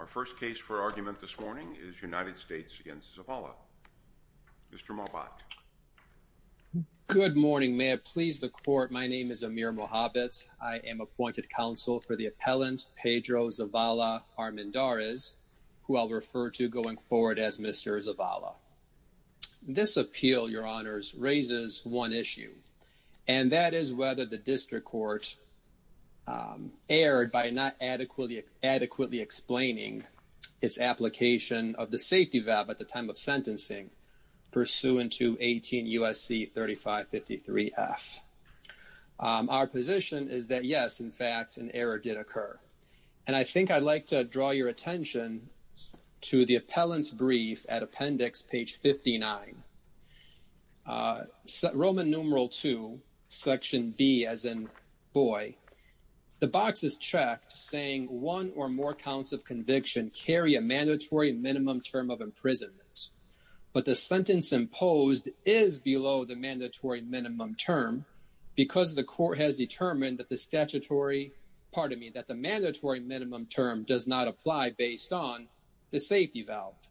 Our first case for argument this morning is United States v. Zavala. Mr. Mohbat. Good morning. May it please the court, my name is Amir Mohabit. I am appointed counsel for the appellant Pedro Zavala-Armendariz, who I'll refer to going forward as Mr. Zavala. This appeal, your honors, raises one issue, and that is whether the district court erred by not adequately explaining its application of the safety valve at the time of sentencing pursuant to 18 U.S.C. 3553-F. Our position is that, yes, in fact, an error did occur. And I think I'd like to draw your attention to the appellant's brief at appendix page 59. Roman numeral 2, section B, as in boy, the box is checked saying one or more counts of conviction carry a mandatory minimum term of imprisonment. But the sentence imposed is below the mandatory minimum term because the court has determined that the statutory, pardon me, that the mandatory minimum term does not apply based on the safety valve,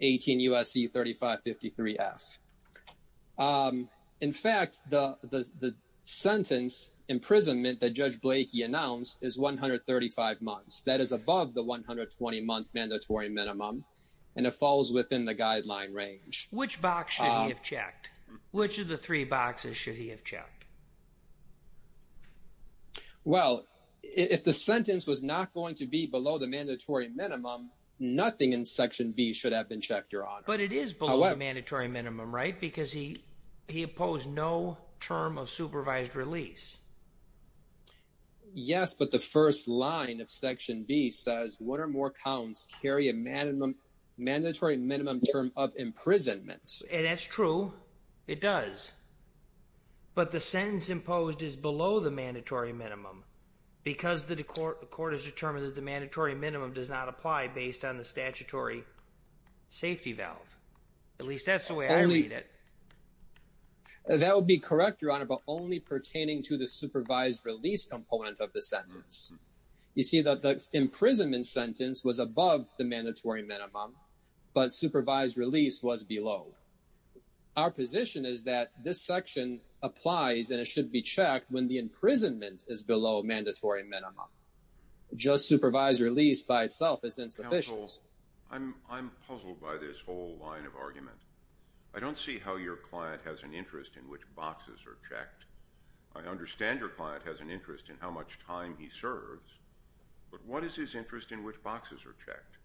18 U.S.C. 3553-F. In fact, the sentence imprisonment that Judge Blakey announced is 135 months. That is above the 120-month mandatory minimum, and it falls within the guideline range. Which box should have checked? Well, if the sentence was not going to be below the mandatory minimum, nothing in section B should have been checked, your honor. But it is below the mandatory minimum, right? Because he opposed no term of supervised release. Yes, but the first line of section B says one or more counts carry a mandatory minimum term of imprisonment. And that's true. It does. But the sentence imposed is below the mandatory minimum because the court has determined that the mandatory minimum does not apply based on the statutory safety valve. At least that's the way I read it. That would be correct, your honor, but only pertaining to the supervised release component of the sentence. You see that the imprisonment sentence was above the mandatory and it should be checked when the imprisonment is below mandatory minimum. Just supervised release by itself is insufficient. Counsel, I'm puzzled by this whole line of argument. I don't see how your client has an interest in which boxes are checked. I understand your client has an interest in how much time he serves, but what is his interest in which boxes are checked?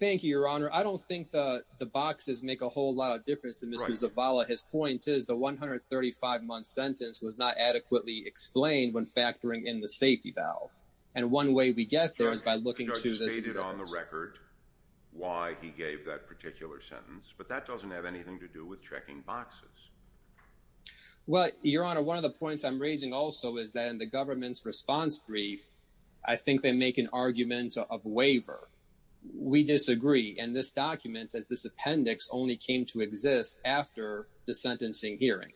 Thank you, your honor. I don't think the boxes make a whole lot of difference to Mr. Zavala. His point is the 135 month sentence was not adequately explained when factoring in the safety valve. And one way we get there is by looking to this on the record why he gave that particular sentence, but that doesn't have anything to do with checking boxes. Well, your honor, one of the points I'm raising also is that in the government's response brief, I think they make an argument of waiver. We disagree. And this document as this appendix only came to exist after the sentencing hearing.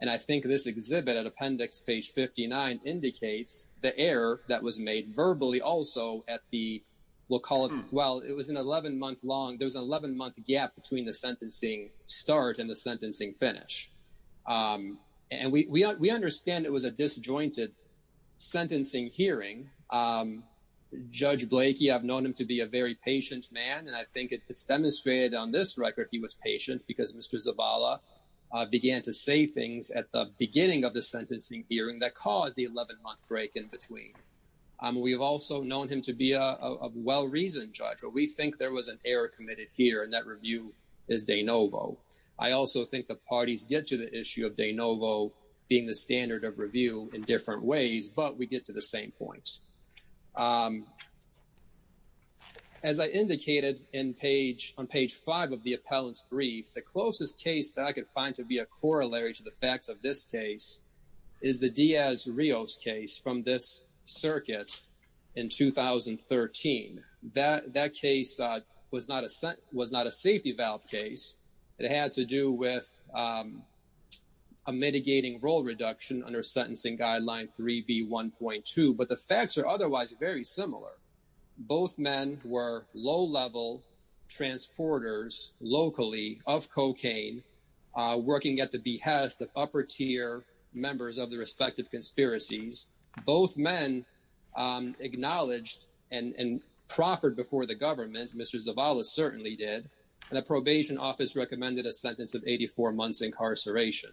And I think this exhibit at appendix page 59 indicates the error that was made verbally also at the, we'll call it, well, it was an 11 month long, there was an 11 month gap between the sentencing start and the sentencing finish. And we understand it was a disjointed sentencing hearing. Judge Blakey, I've known him to be a patient man and I think it's demonstrated on this record he was patient because Mr. Zavala began to say things at the beginning of the sentencing hearing that caused the 11 month break in between. We've also known him to be a well-reasoned judge, but we think there was an error committed here and that review is de novo. I also think the parties get to the issue of de novo being the standard of review in different ways, but we get to the same point. As I indicated on page five of the appellant's brief, the closest case that I could find to be a corollary to the facts of this case is the Diaz-Rios case from this circuit in 2013. That case was not a safety valve case. It had to do with a mitigating role reduction under sentencing guideline 3B1.2, but the facts are otherwise very similar. Both men were low-level transporters locally of cocaine working at the behest of upper tier members of the respective conspiracies. Both men acknowledged and proffered before the government, Mr. Zavala certainly did, and the probation office recommended a sentence of 84 months incarceration.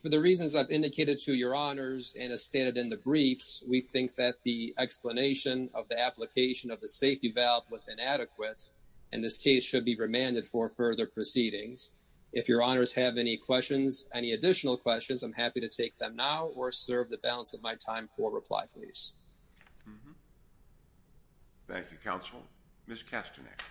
For the reasons I've indicated to your honors and as stated in the briefs, we think that the explanation of the application of the safety valve was inadequate and this case should be remanded for further proceedings. If your honors have any questions, any additional questions, I'm happy to take them now or serve the balance of my time for reply, please. Thank you, counsel. Ms. Kastanek.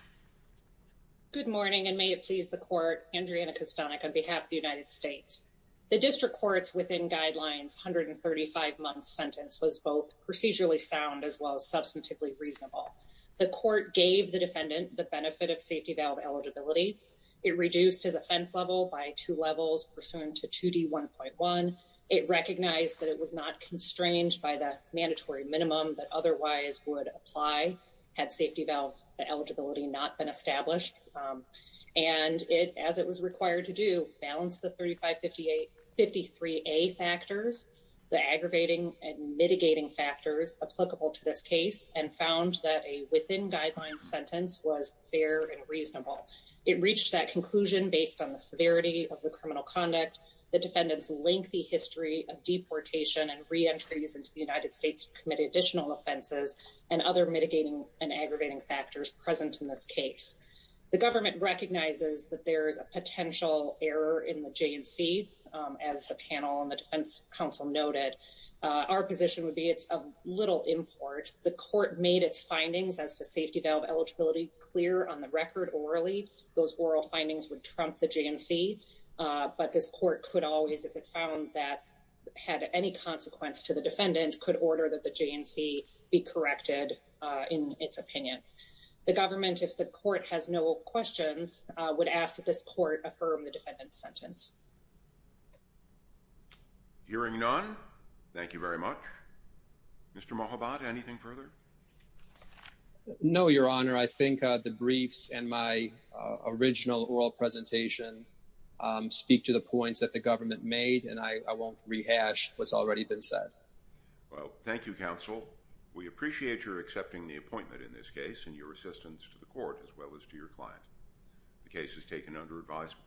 Good morning and may it please the court, Andriana Kastanek on behalf of the United States. The district court's within guidelines 135-month sentence was both procedurally sound as well as substantively reasonable. The court gave the defendant the benefit of safety valve eligibility. It reduced his offense level by two levels pursuant to 2D1.1. It recognized that it was not constrained by the mandatory minimum that otherwise would apply had safety valve eligibility not been established, and it, as it was required to do, balanced the 3553A factors, the aggravating and mitigating factors applicable to this case, and found that a within guidelines sentence was fair and reasonable. It reached that conclusion based on the severity of the criminal conduct, the defendant's lengthy history of deportation and reentries into the United States, committed additional offenses, and other mitigating and aggravating factors present in this case. The government recognizes that there is a potential error in the J&C, as the panel and the defense counsel noted. Our position would be it's of little import. The court made its findings as to safety valve eligibility clear on the record orally. Those oral findings would trump the J&C, but this court could always, if it found that had any consequence to the J&C, be corrected in its opinion. The government, if the court has no questions, would ask that this court affirm the defendant's sentence. Hearing none, thank you very much. Mr. Mohabad, anything further? No, Your Honor. I think the briefs and my original oral presentation speak to the points that the government made, and I won't rehash what's already been said. Well, thank you, counsel. We appreciate your accepting the appointment in this case, and your assistance to the court as well as to your client. The case is taken under advisement.